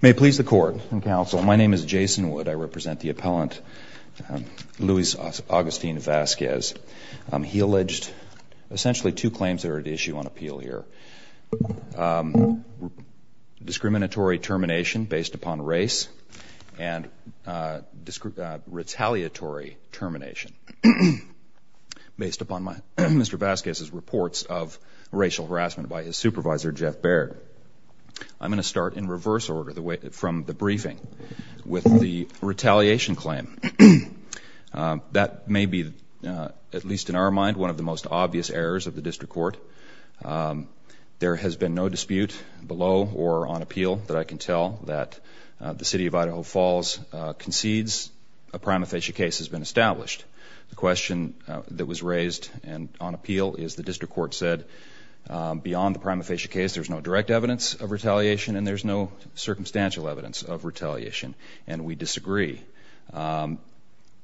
May please the court and counsel. My name is Jason Wood. I represent the appellant Louis Augustine Vasquez He alleged Essentially two claims that are at issue on appeal here Discriminatory termination based upon race and Retaliatory termination Based upon my mr. Vasquez's reports of racial harassment by his supervisor Jeff Baird I'm going to start in reverse order the way from the briefing with the retaliation claim That may be at least in our mind one of the most obvious errors of the district court There has been no dispute below or on appeal that I can tell that the city of Idaho Falls Concedes a prima facie case has been established the question that was raised and on appeal is the district court said Beyond the prima facie case there's no direct evidence of retaliation and there's no circumstantial evidence of retaliation and we disagree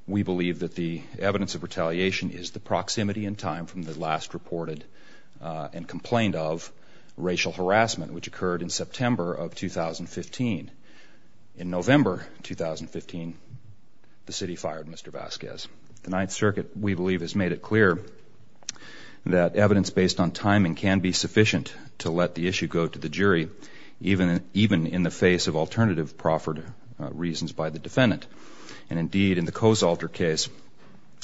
We believe that the evidence of retaliation is the proximity in time from the last reported and complained of racial harassment which occurred in September of 2015 in November 2015 The city fired. Mr. Vasquez the Ninth Circuit. We believe has made it clear that Evidence based on timing can be sufficient to let the issue go to the jury Even even in the face of alternative proffered reasons by the defendant and indeed in the Coe's alter case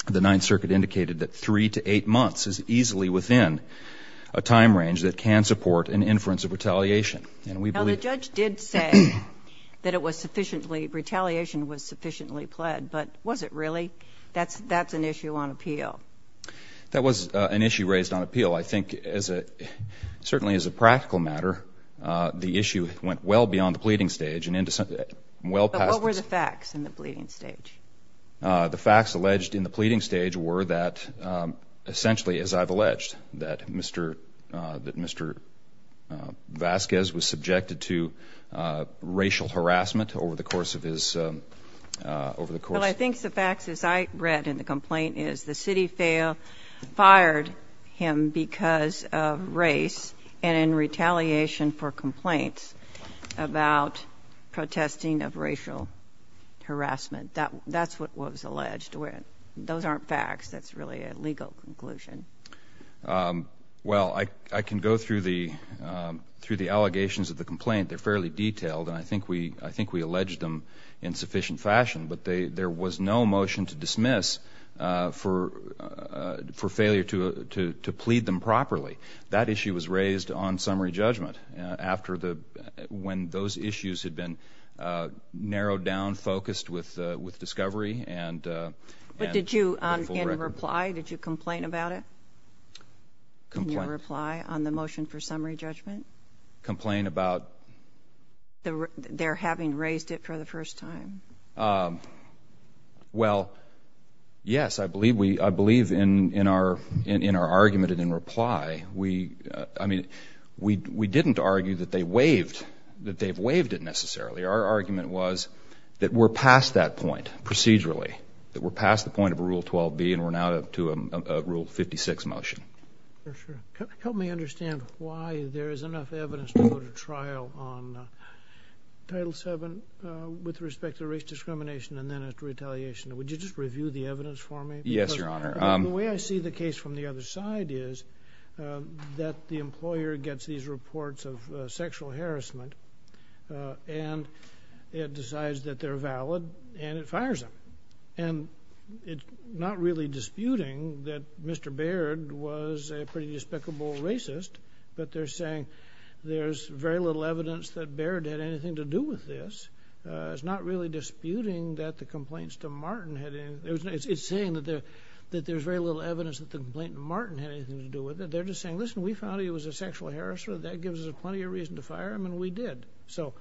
the Ninth Circuit indicated that three to eight months is easily within a Time range that can support an inference of retaliation and we believe the judge did say That it was sufficiently retaliation was sufficiently pled, but was it really that's that's an issue on appeal That was an issue raised on appeal I think as a Certainly as a practical matter The issue went well beyond the pleading stage and into something well past over the facts in the bleeding stage the facts alleged in the pleading stage were that Essentially as I've alleged that mr. That mr. Vasquez was subjected to racial harassment over the course of his Over the course, I think the facts as I read in the complaint is the city fail Fired him because of race and in retaliation for complaints about protesting of racial Harassment that that's what was alleged to it. Those aren't facts. That's really a legal conclusion well, I can go through the Through the allegations of the complaint, they're fairly detailed and I think we I think we alleged them in sufficient fashion But they there was no motion to dismiss for For failure to to plead them properly that issue was raised on summary judgment after the when those issues had been narrowed down focused with with discovery and But did you in reply? Did you complain about it? Reply on the motion for summary judgment complain about the they're having raised it for the first time Well Yes, I believe we I believe in in our in in our argument and in reply We I mean we we didn't argue that they waived that they've waived it necessarily Our argument was that we're past that point Procedurally that we're past the point of a rule 12b and we're now to a rule 56 motion Help me understand why there is enough evidence to go to trial on Title 7 with respect to race discrimination and then after retaliation, would you just review the evidence for me? Yes, your honor I'm the way I see the case from the other side is that the employer gets these reports of sexual harassment and It decides that they're valid and it fires them and it's not really disputing that Despicable racist, but they're saying there's very little evidence that Baird had anything to do with this It's not really disputing that the complaints to Martin had in there It's saying that there that there's very little evidence that the complaint Martin had anything to do with it They're just saying listen, we found he was a sexual harasser that gives us a plenty of reason to fire him and we did so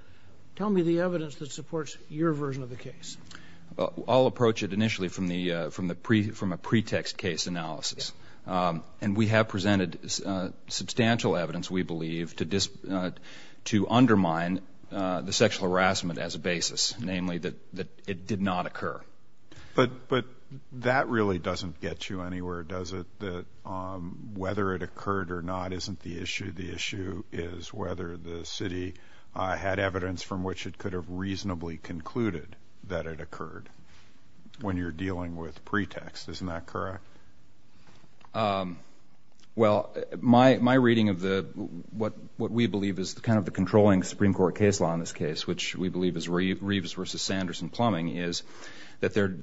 Tell me the evidence that supports your version of the case I'll approach it initially from the from the pre from a pretext case analysis And we have presented substantial evidence we believe to just to undermine The sexual harassment as a basis namely that that it did not occur But but that really doesn't get you anywhere. Does it that? Whether it occurred or not isn't the issue The issue is whether the city had evidence from which it could have reasonably concluded that it occurred When you're dealing with pretext, isn't that correct? well My my reading of the what what we believe is the kind of the controlling Supreme Court case law in this case Which we believe is Reeves versus Sanderson plumbing is that there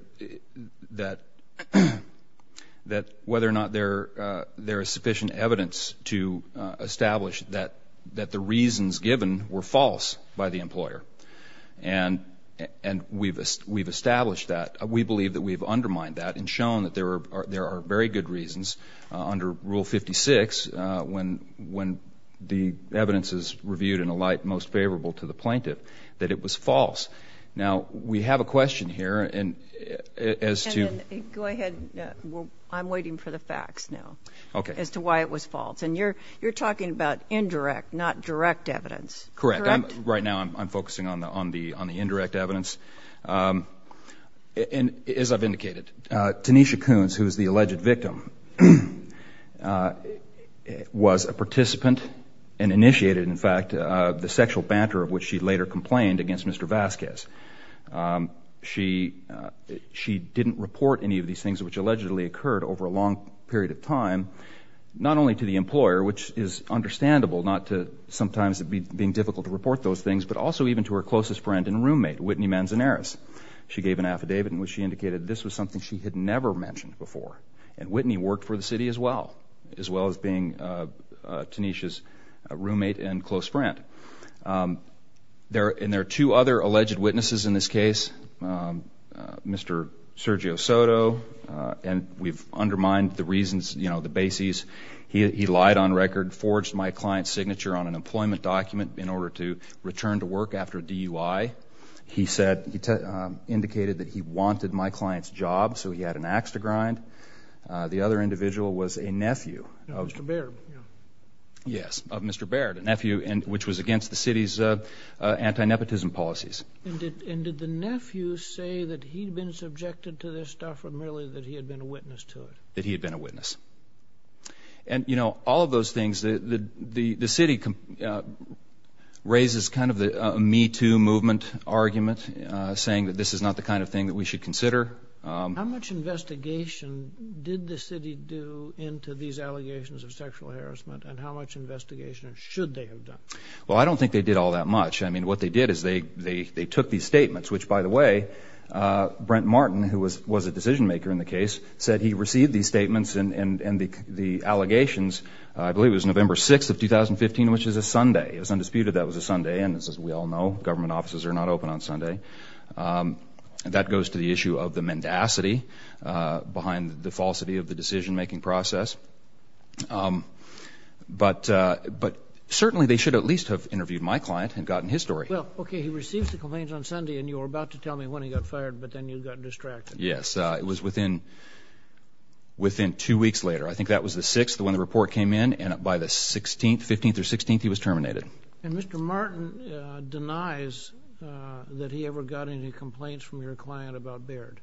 that that whether or not they're there is sufficient evidence to establish that that the reasons given were false by the employer and And we've we've established that we believe that we've undermined that and shown that there are there are very good reasons under rule 56 When when the evidence is reviewed in a light most favorable to the plaintiff that it was false Now we have a question here and as to go ahead I'm waiting for the facts now. Okay as to why it was false and you're you're talking about indirect not direct evidence, correct? Right now I'm focusing on the on the on the indirect evidence And as I've indicated Tanisha Coons, who's the alleged victim? Was a participant and initiated in fact the sexual banter of which she later complained against mr. Vasquez she She didn't report any of these things which allegedly occurred over a long period of time Not only to the employer which is Understandable not to sometimes it'd be being difficult to report those things but also even to her closest friend and roommate Whitney Manzanares She gave an affidavit in which she indicated this was something she had never mentioned before and Whitney worked for the city as well as well as being Tanisha's roommate and close friend There and there are two other alleged witnesses in this case Mr. Sergio Soto and we've undermined the reasons, you know the bases He lied on record forged my client's signature on an employment document in order to return to work after DUI He said he indicated that he wanted my client's job. So he had an axe to grind The other individual was a nephew of mr. Baird Yes of mr. Baird a nephew and which was against the city's Antinepotism policies That he had been a witness and You know all of those things that the the city Raises kind of the me to movement argument saying that this is not the kind of thing that we should consider Well, I don't think they did all that much I mean what they did is they they they took these statements, which by the way Brent Martin who was was a decision-maker in the case said he received these statements and and and the the allegations I believe was November 6 of 2015, which is a Sunday It was undisputed that was a Sunday and this is we all know government offices are not open on Sunday And that goes to the issue of the mendacity behind the falsity of the decision-making process But But but certainly they should at least have interviewed my client and gotten his story Well, okay, he receives the complaints on Sunday and you were about to tell me when he got fired, but then you got distracted Yes, it was within Within two weeks later. I think that was the sixth when the report came in and up by the 16th 15th or 16th He was terminated and mr. Martin denies That he ever got any complaints from your client about Baird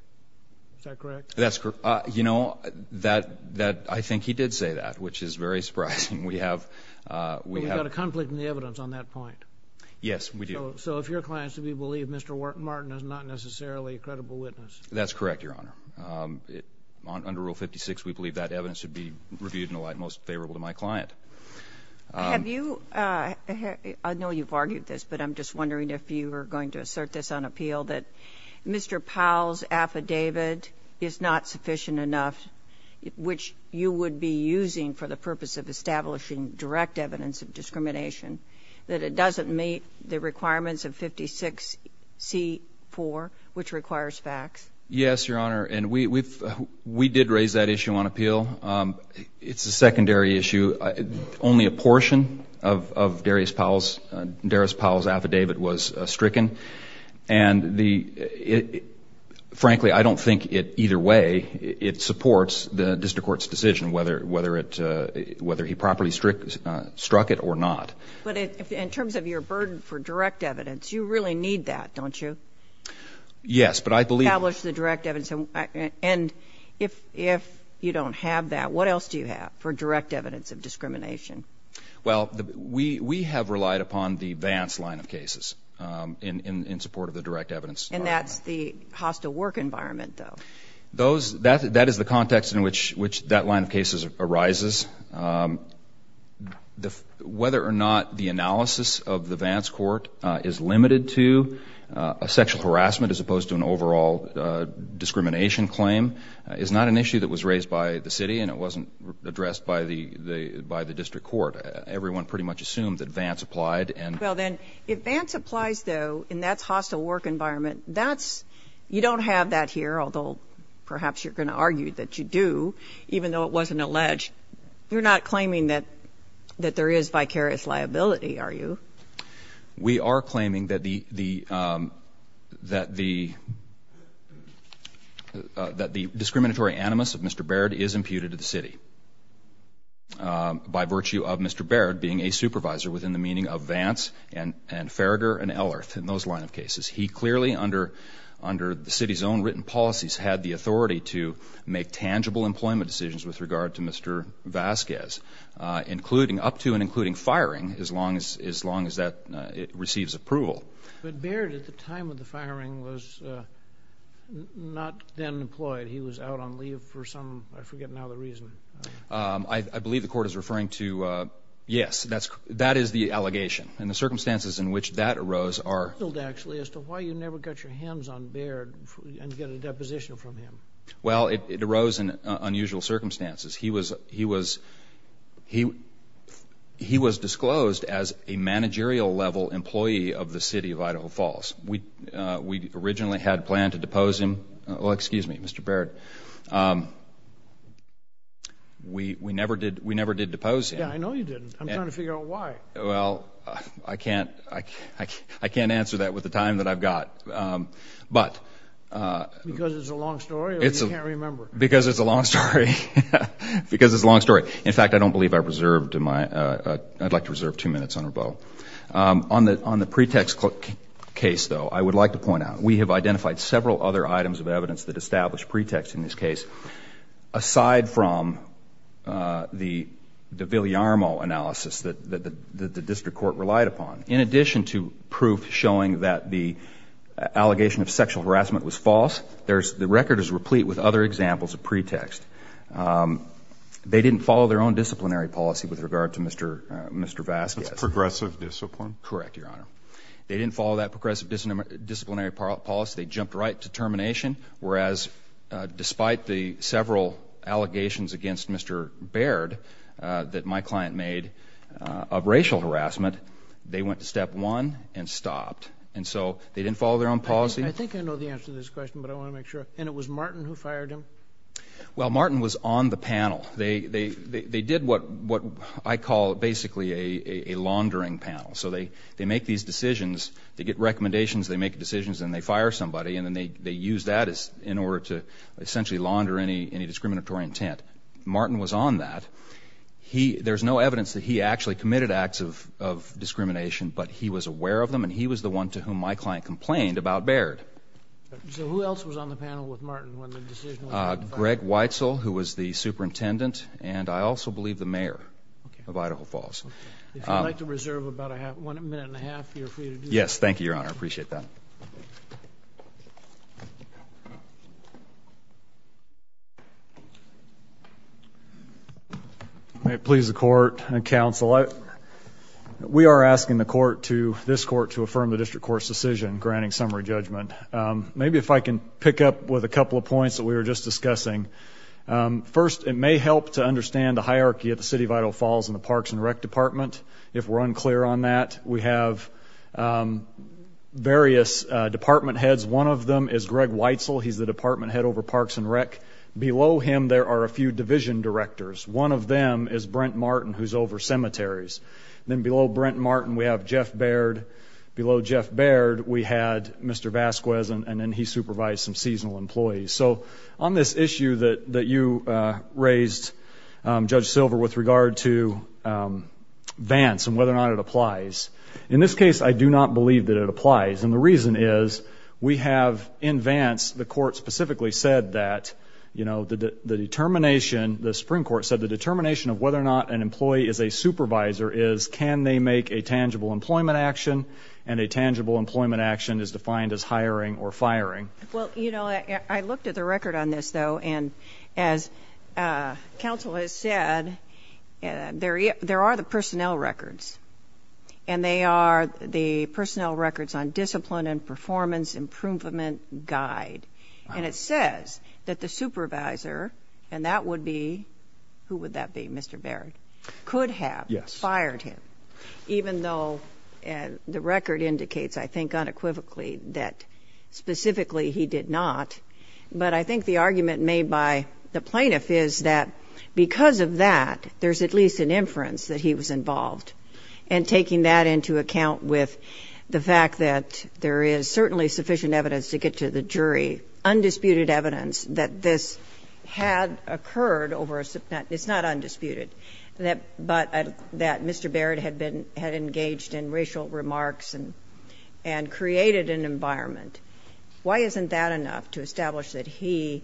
That's correct, you know that that I think he did say that which is very surprising we have We've got a conflict in the evidence on that point. Yes, we do. So if your clients to be believed, mr Martin is not necessarily a credible witness. That's correct. Your honor Under rule 56. We believe that evidence should be reviewed in a light most favorable to my client Have you? I know you've argued this but I'm just wondering if you were going to assert this on appeal that Mr. Powell's affidavit is not sufficient enough Which you would be using for the purpose of establishing direct evidence of discrimination That it doesn't meet the requirements of 56 C4 which requires facts. Yes, your honor, and we've we did raise that issue on appeal It's a secondary issue only a portion of Darius Powell's Darius Powell's affidavit was stricken and the Frankly, I don't think it either way it supports the district court's decision whether whether it whether he properly strict Struck it or not. But in terms of your burden for direct evidence, you really need that don't you? Yes, but I believe the direct evidence and and if if you don't have that what else do you have for direct evidence of discrimination? Well, we we have relied upon the Vance line of cases in in support of the direct evidence And that's the hostile work environment though those that that is the context in which which that line of cases arises The whether or not the analysis of the Vance court is limited to a sexual harassment as opposed to an overall Discrimination claim is not an issue that was raised by the city and it wasn't addressed by the the by the district court Everyone pretty much assumed that Vance applied and well then if Vance applies though in that's hostile work environment That's you don't have that here. Although perhaps you're gonna argue that you do even though it wasn't alleged You're not claiming that that there is vicarious liability. Are you? we are claiming that the the that the That the discriminatory animus of mr. Baird is imputed to the city By virtue of mr Baird being a supervisor within the meaning of Vance and and Farragher and L earth in those line of cases He clearly under under the city's own written policies had the authority to make tangible employment decisions with regard to mr Vasquez Including up to and including firing as long as as long as that it receives approval but Baird at the time of the firing was Not then employed he was out on leave for some I forget now the reason I believe the court is referring to Yes, that's that is the allegation and the circumstances in which that arose are filled actually as to why you never got your hands on Baird and get a deposition from him. Well, it arose in unusual circumstances. He was he was he He was disclosed as a managerial level employee of the city of Idaho Falls We we originally had planned to depose him. Well, excuse me, mr. Baird We we never did we never did depose Well, I can't I can't answer that with the time that I've got but Because it's a long story Because it's a long story. In fact, I don't believe I reserved in my I'd like to reserve two minutes on her bow on the on the pretext Case though. I would like to point out we have identified several other items of evidence that established pretext in this case aside from the the Villarmo analysis that the district court relied upon in addition to proof showing that the Allegation of sexual harassment was false. There's the record is replete with other examples of pretext They didn't follow their own disciplinary policy with regard to mr. Mr. Vasquez progressive discipline, correct? They didn't follow that progressive disciplinary policy. They jumped right to termination. Whereas Despite the several allegations against mr. Baird That my client made of racial harassment They went to step one and stopped and so they didn't follow their own policy I think I know the answer to this question, but I want to make sure and it was Martin who fired him Well Martin was on the panel. They they they did what what I call basically a They make these decisions they get recommendations They make decisions and they fire somebody and then they they use that as in order to essentially launder any any discriminatory intent Martin was on that he there's no evidence that he actually committed acts of Discrimination, but he was aware of them and he was the one to whom my client complained about Baird Greg Weitzel who was the superintendent and I also believe the mayor of Idaho Falls I like to reserve about I have one minute and a half. Yes. Thank you. Your honor. I appreciate that May it please the court and counsel it We are asking the court to this court to affirm the district court's decision granting summary judgment Maybe if I can pick up with a couple of points that we were just discussing First it may help to understand the hierarchy at the City of Idaho Falls in the parks and rec department if we're unclear on that we have Various department heads one of them is Greg Weitzel. He's the department head over parks and rec below him There are a few division directors. One of them is Brent Martin who's over cemeteries then below Brent Martin We have Jeff Baird below Jeff Baird. We had mr. Vasquez and then he supervised some seasonal employees so on this issue that that you raised judge silver with regard to Vance and whether or not it applies in this case I do not believe that it applies and the reason is we have in Vance the court specifically said that you know the determination the Supreme Court said the determination of whether or not an employee is a Supervisor is can they make a tangible employment action and a tangible employment action is defined as hiring or firing? well, you know, I looked at the record on this though, and as Counsel has said There there are the personnel records and they are the personnel records on discipline and performance Improvement guide and it says that the supervisor and that would be who would that be? Mr. Baird could have yes fired him even though and the record indicates I think unequivocally that Specifically he did not but I think the argument made by the plaintiff is that because of that there's at least an inference that he was involved and Taking that into account with the fact that there is certainly sufficient evidence to get to the jury Undisputed evidence that this had occurred over a subnet. It's not undisputed that but that Mr. Baird had been had engaged in racial remarks and and Created an environment. Why isn't that enough to establish that he?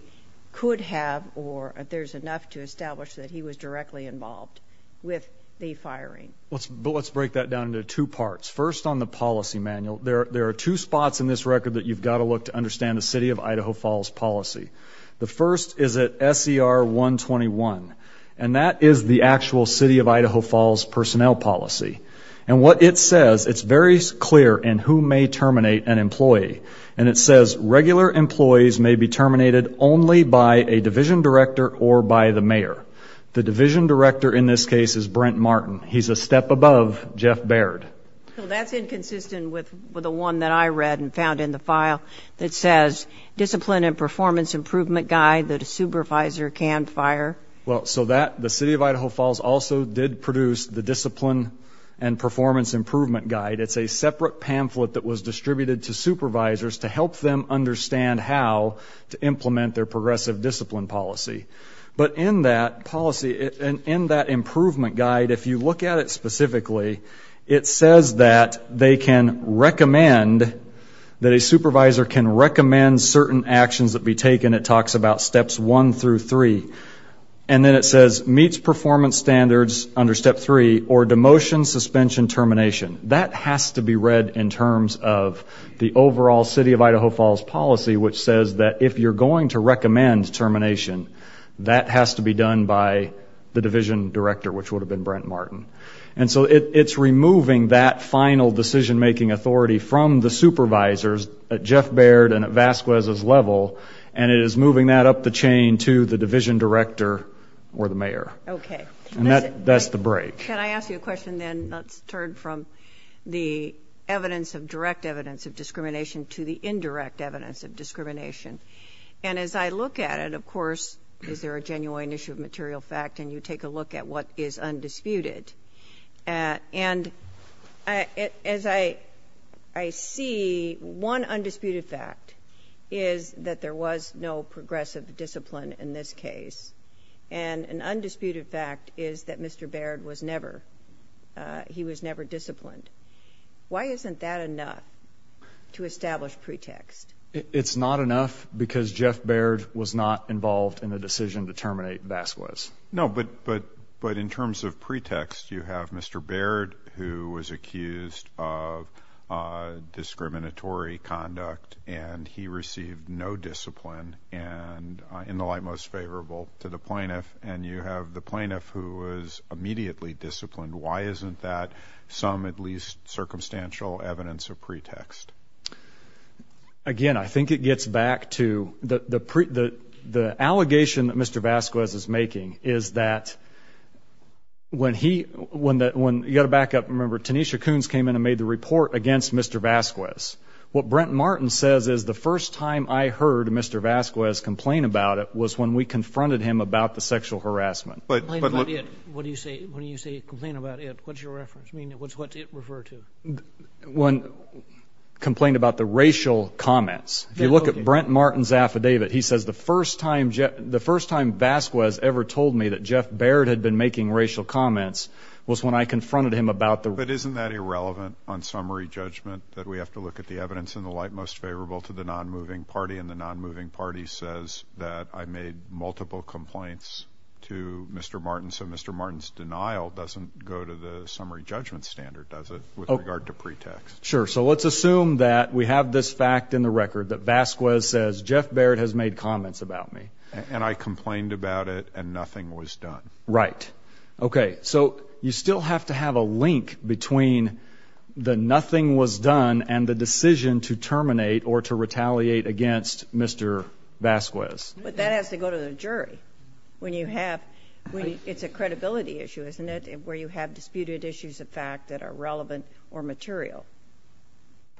Could have or if there's enough to establish that he was directly involved with the firing Let's but let's break that down into two parts first on the policy manual There there are two spots in this record that you've got to look to understand the city of Idaho Falls policy The first is at SCR 121 and that is the actual city of Idaho Falls personnel policy And what it says it's very clear and who may terminate an employee and it says regular Employees may be terminated only by a division director or by the mayor the division director in this case is Brent Martin He's a step above Jeff Baird That says Discipline and performance improvement guide that a supervisor can fire. Well, so that the city of Idaho Falls also did produce the discipline Performance improvement guide. It's a separate pamphlet that was distributed to supervisors to help them understand how to Implement their progressive discipline policy, but in that policy and in that improvement guide if you look at it specifically It says that they can recommend that a supervisor can recommend certain actions that be taken it talks about steps 1 through 3 and Suspension termination that has to be read in terms of the overall city of Idaho Falls policy Which says that if you're going to recommend termination that has to be done by the division director Which would have been Brent Martin and so it's removing that final decision-making authority from the supervisors Jeff Baird and at Vasquez's level and it is moving that up the chain to the division director or the mayor Okay, that's the break can I ask you a question then let's turn from the evidence of direct evidence of discrimination to the indirect evidence of discrimination and As I look at it, of course, is there a genuine issue of material fact and you take a look at what is undisputed? and as I I See one undisputed fact is that there was no progressive discipline in this case And an undisputed fact is that mr. Baird was never He was never disciplined Why isn't that enough? To establish pretext it's not enough because Jeff Baird was not involved in the decision to terminate Vasquez No, but but but in terms of pretext you have mr. Baird who was accused of Plaintiff and you have the plaintiff who was immediately disciplined. Why isn't that some at least? circumstantial evidence of pretext Again, I think it gets back to the the pre the the allegation that mr. Vasquez is making is that When he when that when you got a backup remember Tanisha Coons came in and made the report against mr. Vasquez What Brent Martin says is the first time I heard mr. Vasquez complain about it was when we confronted him About the sexual harassment, but what do you say when you say complain about it? What's your reference? I mean, what's what it referred to? one Complained about the racial comments. If you look at Brent Martin's affidavit He says the first time Jeff the first time Vasquez ever told me that Jeff Baird had been making racial comments Was when I confronted him about the but isn't that irrelevant on summary judgment that we have to look at the evidence in the light Most favorable to the non-moving party and the non-moving party says that I made multiple complaints to mr. Martin So mr. Martin's denial doesn't go to the summary judgment standard does it with regard to pretext? Sure So let's assume that we have this fact in the record that Vasquez says Jeff Baird has made comments about me And I complained about it and nothing was done, right? okay, so you still have to have a link between The nothing was done and the decision to terminate or to retaliate against mr. Vasquez, but that has to go to the jury When you have when it's a credibility issue, isn't it where you have disputed issues of fact that are relevant or material?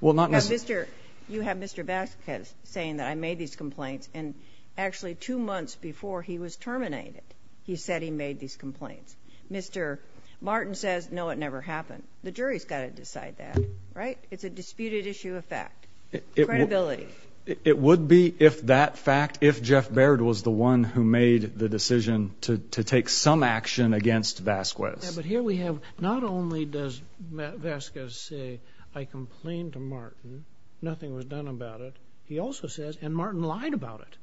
Well, not mr. You have mr. Vasquez saying that I made these complaints and actually two months before he was terminated He said he made these complaints. Mr. Martin says no It never happened. The jury's got to decide that right? It's a disputed issue of fact credibility it would be if that fact if Jeff Baird was the one who made the decision to take some action against Vasquez, but here we have not only does Vasquez say I complained to Martin nothing was done about it. He also says and Martin lied about it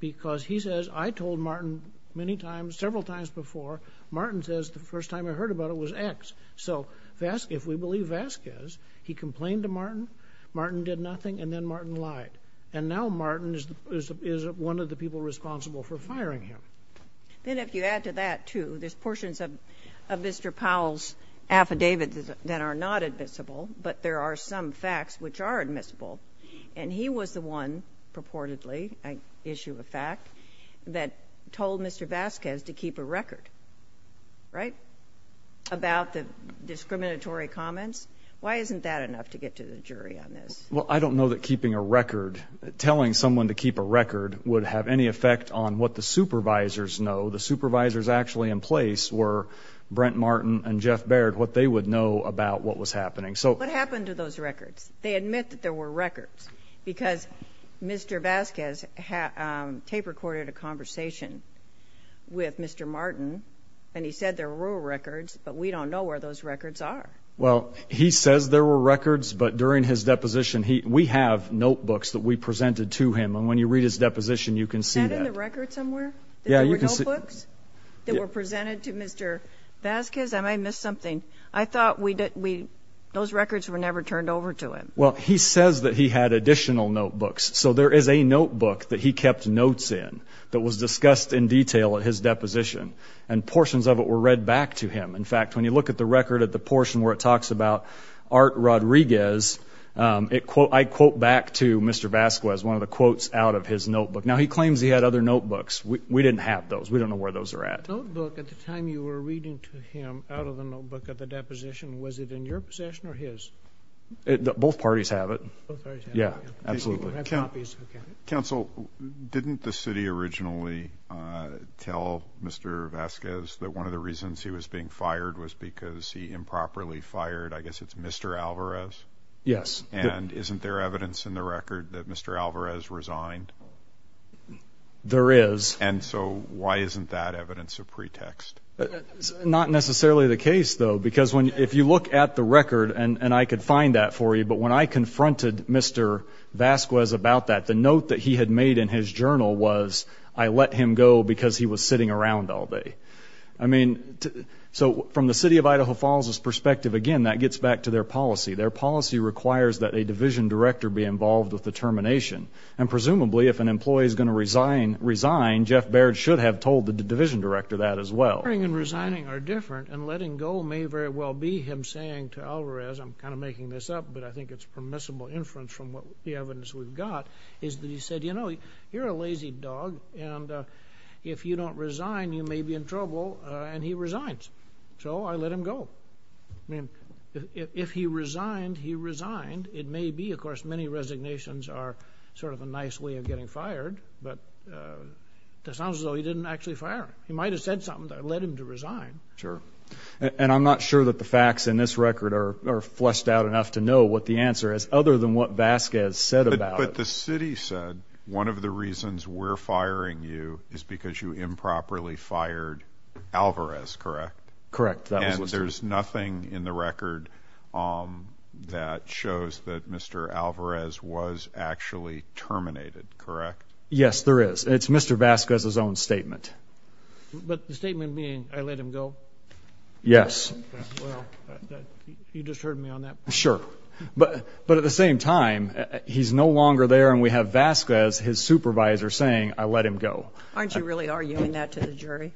Because he says I told Martin many times several times before Martin says the first time I heard about it was X so fast if we believe Vasquez he complained to Martin Martin did nothing and then Martin lied and now Martin is One of the people responsible for firing him then if you add to that to this portions of mr. Powell's Affidavits that are not admissible, but there are some facts which are admissible and he was the one purportedly I issue a fact that Told mr. Vasquez to keep a record right About the discriminatory comments. Why isn't that enough to get to the jury on this? Well, I don't know that keeping a record Telling someone to keep a record would have any effect on what the supervisors know The supervisors actually in place were Brent Martin and Jeff Baird what they would know about what was happening So what happened to those records they admit that there were records because mr Vasquez had tape recorded a conversation With mr. Martin and he said there were records, but we don't know where those records are Well, he says there were records but during his deposition He we have notebooks that we presented to him and when you read his deposition you can see the record somewhere Yeah, you can see books that were presented to mr. Vasquez. I might miss something I thought we did we those records were never turned over to him. Well, he says that he had additional notebooks so there is a notebook that he kept notes in that was discussed in detail at his deposition and Portions of it were read back to him. In fact when you look at the record at the portion where it talks about art Rodriguez It quote I quote back to mr. Vasquez one of the quotes out of his notebook now He claims he had other notebooks. We didn't have those We don't know where those are at Both parties have it. Yeah Counsel didn't the city originally Tell mr. Vasquez that one of the reasons he was being fired was because he improperly fired. I guess it's mr. Alvarez Yes, and isn't there evidence in the record that mr. Alvarez resigned? There is and so why isn't that evidence of pretext? Not necessarily the case though, because when if you look at the record and and I could find that for you But when I confronted mr Vasquez about that the note that he had made in his journal was I let him go because he was sitting around all day I mean So from the city of Idaho Falls his perspective again that gets back to their policy their policy Requires that a division director be involved with the termination and presumably if an employee is going to resign Resign Jeff Baird should have told the division director that as well I mean resigning are different and letting go may very well be him saying to Alvarez I'm kind of making this up, but I think it's permissible inference from what the evidence we've got is that he said, you know, you're a lazy dog and If you don't resign you may be in trouble and he resigns so I let him go I mean if he resigned he resigned it may be of course many resignations are sort of a nice way of getting fired but That sounds though. He didn't actually fire. He might have said something that led him to resign sure And I'm not sure that the facts in this record are Fleshed out enough to know what the answer is other than what Vasquez said about the city said one of the reasons We're firing you is because you improperly fired Alvarez, correct, correct. There's nothing in the record That shows that mr. Alvarez was actually terminated, correct? Yes, there is. It's mr. Vasquez his own statement But the statement being I let him go Yes Sure, but but at the same time he's no longer there and we have Vasquez his supervisor saying I let him go Aren't you really arguing that to the jury?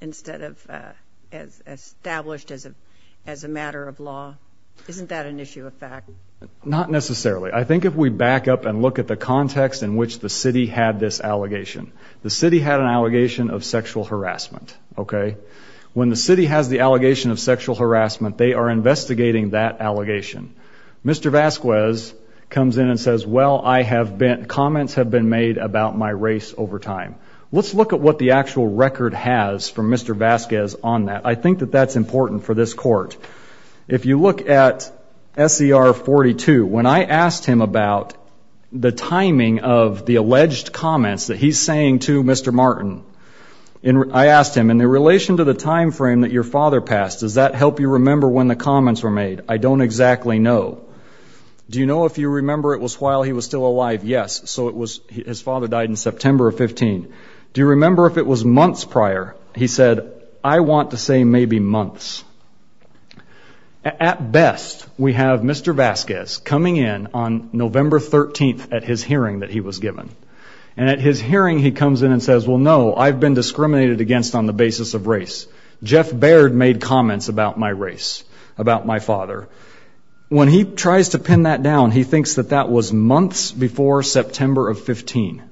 instead of Established as a as a matter of law. Isn't that an issue of fact not necessarily I think if we back up and look at the context in which the city had this allegation the city had an allegation of sexual Harassment. Okay, when the city has the allegation of sexual harassment, they are investigating that allegation Mr. Vasquez comes in and says well, I have been comments have been made about my race over time Let's look at what the actual record has from mr. Vasquez on that. I think that that's important for this court if you look at SCR 42 when I asked him about The timing of the alleged comments that he's saying to mr. Martin In I asked him in the relation to the time frame that your father passed Does that help you remember when the comments were made? I don't exactly know Do you know if you remember it was while he was still alive? Yes, so it was his father died in September of 15 Do you remember if it was months prior? He said I want to say maybe months At best we have mr. Vasquez coming in on November 13th at his hearing that he was given and at his hearing He comes in and says well, no, I've been discriminated against on the basis of race Jeff Baird made comments about my race about my father When he tries to pin that down, he thinks that that was months before September of 15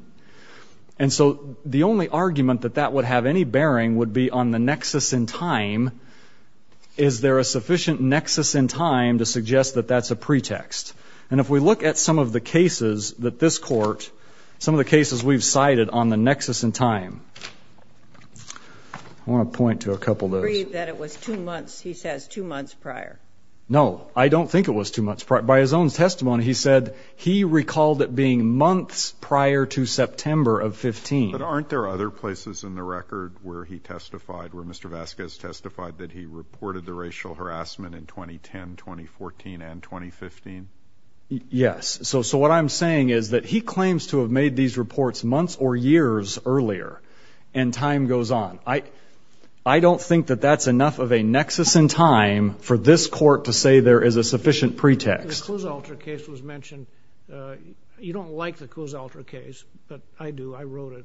and so the only argument that that would have any bearing would be on the nexus in time is There a sufficient nexus in time to suggest that that's a pretext and if we look at some of the cases that this court Some of the cases we've cited on the nexus in time I Want to point to a couple of No, I don't think it was too much part by his own testimony He said he recalled it being months prior to September of 15 But aren't there other places in the record where he testified where mr Vasquez testified that he reported the racial harassment in 2010 2014 and 2015 Yes, so so what I'm saying is that he claims to have made these reports months or years earlier and time goes on I I Don't think that that's enough of a nexus in time for this court to say there is a sufficient pretext You don't like the Coo's altar case, but I do I wrote it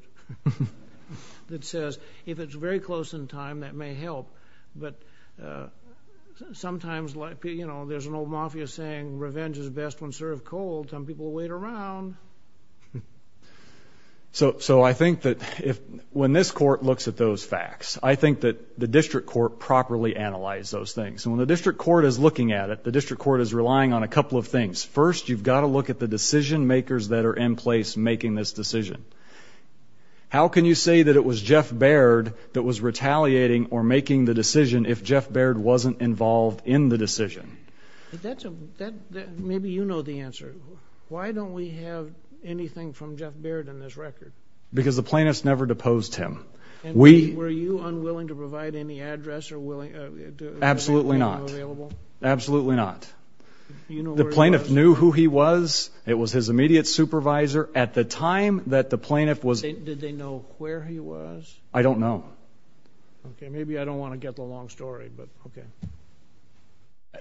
that says if it's very close in time that may help but Sometimes like, you know, there's an old mafia saying revenge is best when served cold some people wait around So so I think that if when this court looks at those facts I think that the district court properly analyze those things and when the district court is looking at it The district court is relying on a couple of things first You've got to look at the decision makers that are in place making this decision How can you say that it was Jeff Baird that was retaliating or making the decision if Jeff Baird wasn't involved in the decision Maybe you know the answer. Why don't we have anything from Jeff Baird in this record because the plaintiffs never deposed him We were you unwilling to provide any address or willing? Absolutely, not absolutely not The plaintiff knew who he was it was his immediate supervisor at the time that the plaintiff was I don't know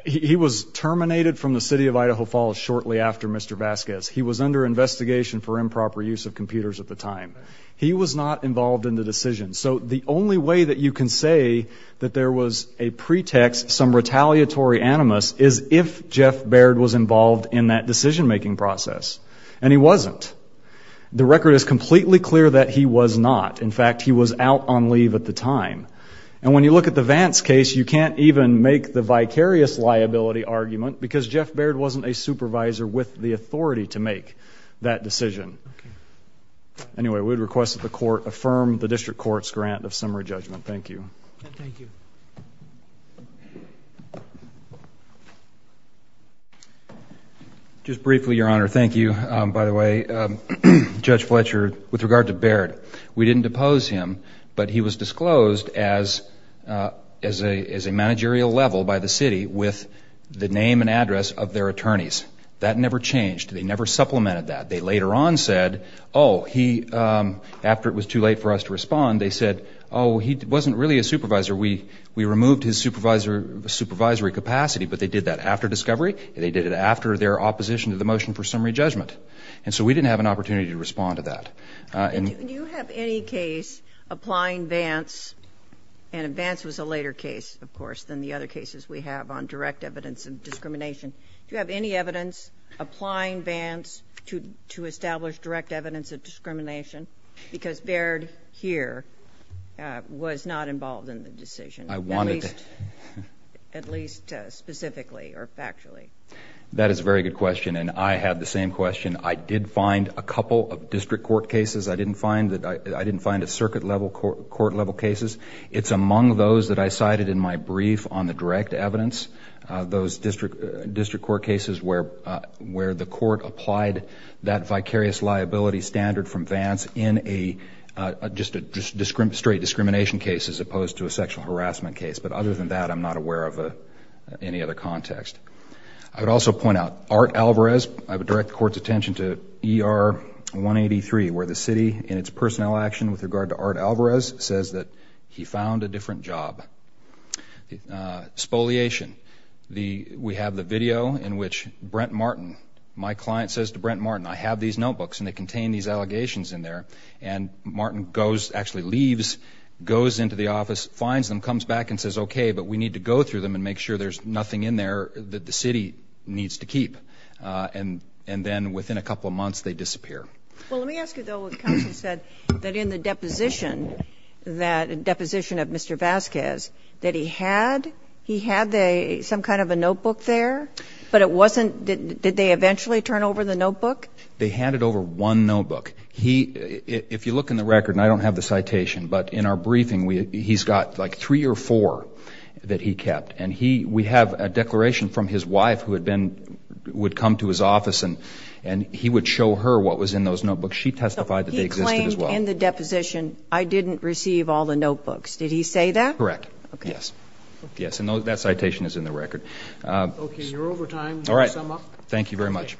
He was terminated from the city of Idaho Falls shortly after mr. Vasquez He was under investigation for improper use of computers at the time. He was not involved in the decision so the only way that you can say that there was a pretext some retaliatory animus is if Jeff Baird was involved in that decision-making process and he wasn't The record is completely clear that he was not in fact He was out on leave at the time and when you look at the Vance case You can't even make the vicarious liability argument because Jeff Baird wasn't a supervisor with the authority to make that decision Anyway, we would request that the court affirm the district courts grant of summary judgment. Thank you Just briefly your honor, thank you, by the way Judge Fletcher with regard to Baird. We didn't depose him, but he was disclosed as As a as a managerial level by the city with the name and address of their attorneys that never changed They never supplemented that they later on said oh he After it was too late for us to respond. They said oh, he wasn't really a supervisor We we removed his supervisor the supervisory capacity But they did that after discovery and they did it after their opposition to the motion for summary judgment And so we didn't have an opportunity to respond to that and you have any case applying Vance and Advance was a later case, of course than the other cases we have on direct evidence of discrimination Do you have any evidence applying Vance to to establish direct evidence of discrimination because Baird here? Was not involved in the decision I wanted At least specifically or factually that is a very good question. And I have the same question I did find a couple of district court cases. I didn't find that. I didn't find a circuit level court court level cases It's among those that I cited in my brief on the direct evidence those district district court cases where where the court applied that vicarious liability standard from Vance in a Just a district straight discrimination case as opposed to a sexual harassment case, but other than that, I'm not aware of a any other context I would also point out art Alvarez. I would direct the court's attention to er 183 where the city and its personnel action with regard to art Alvarez says that he found a different job Spoliation the we have the video in which Brent Martin my client says to Brent Martin I have these notebooks and they contain these allegations in there and Martin goes actually leaves goes into the office finds them comes back and says, okay But we need to go through them and make sure there's nothing in there that the city needs to keep And and then within a couple of months they disappear That in the deposition That a deposition of mr. Vasquez that he had he had a some kind of a notebook there But it wasn't did they eventually turn over the notebook? They handed over one notebook He if you look in the record, and I don't have the citation, but in our briefing We he's got like three or four that he kept and he we have a declaration from his wife who had been would come to his office and and He would show her what was in those notebooks. She testified that they existed as well in the deposition I didn't receive all the notebooks. Did he say that correct? Yes. Yes, and those that citation is in the record Thank you very much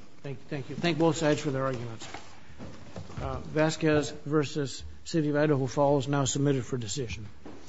Vasquez versus City of Idaho Falls now submitted for decision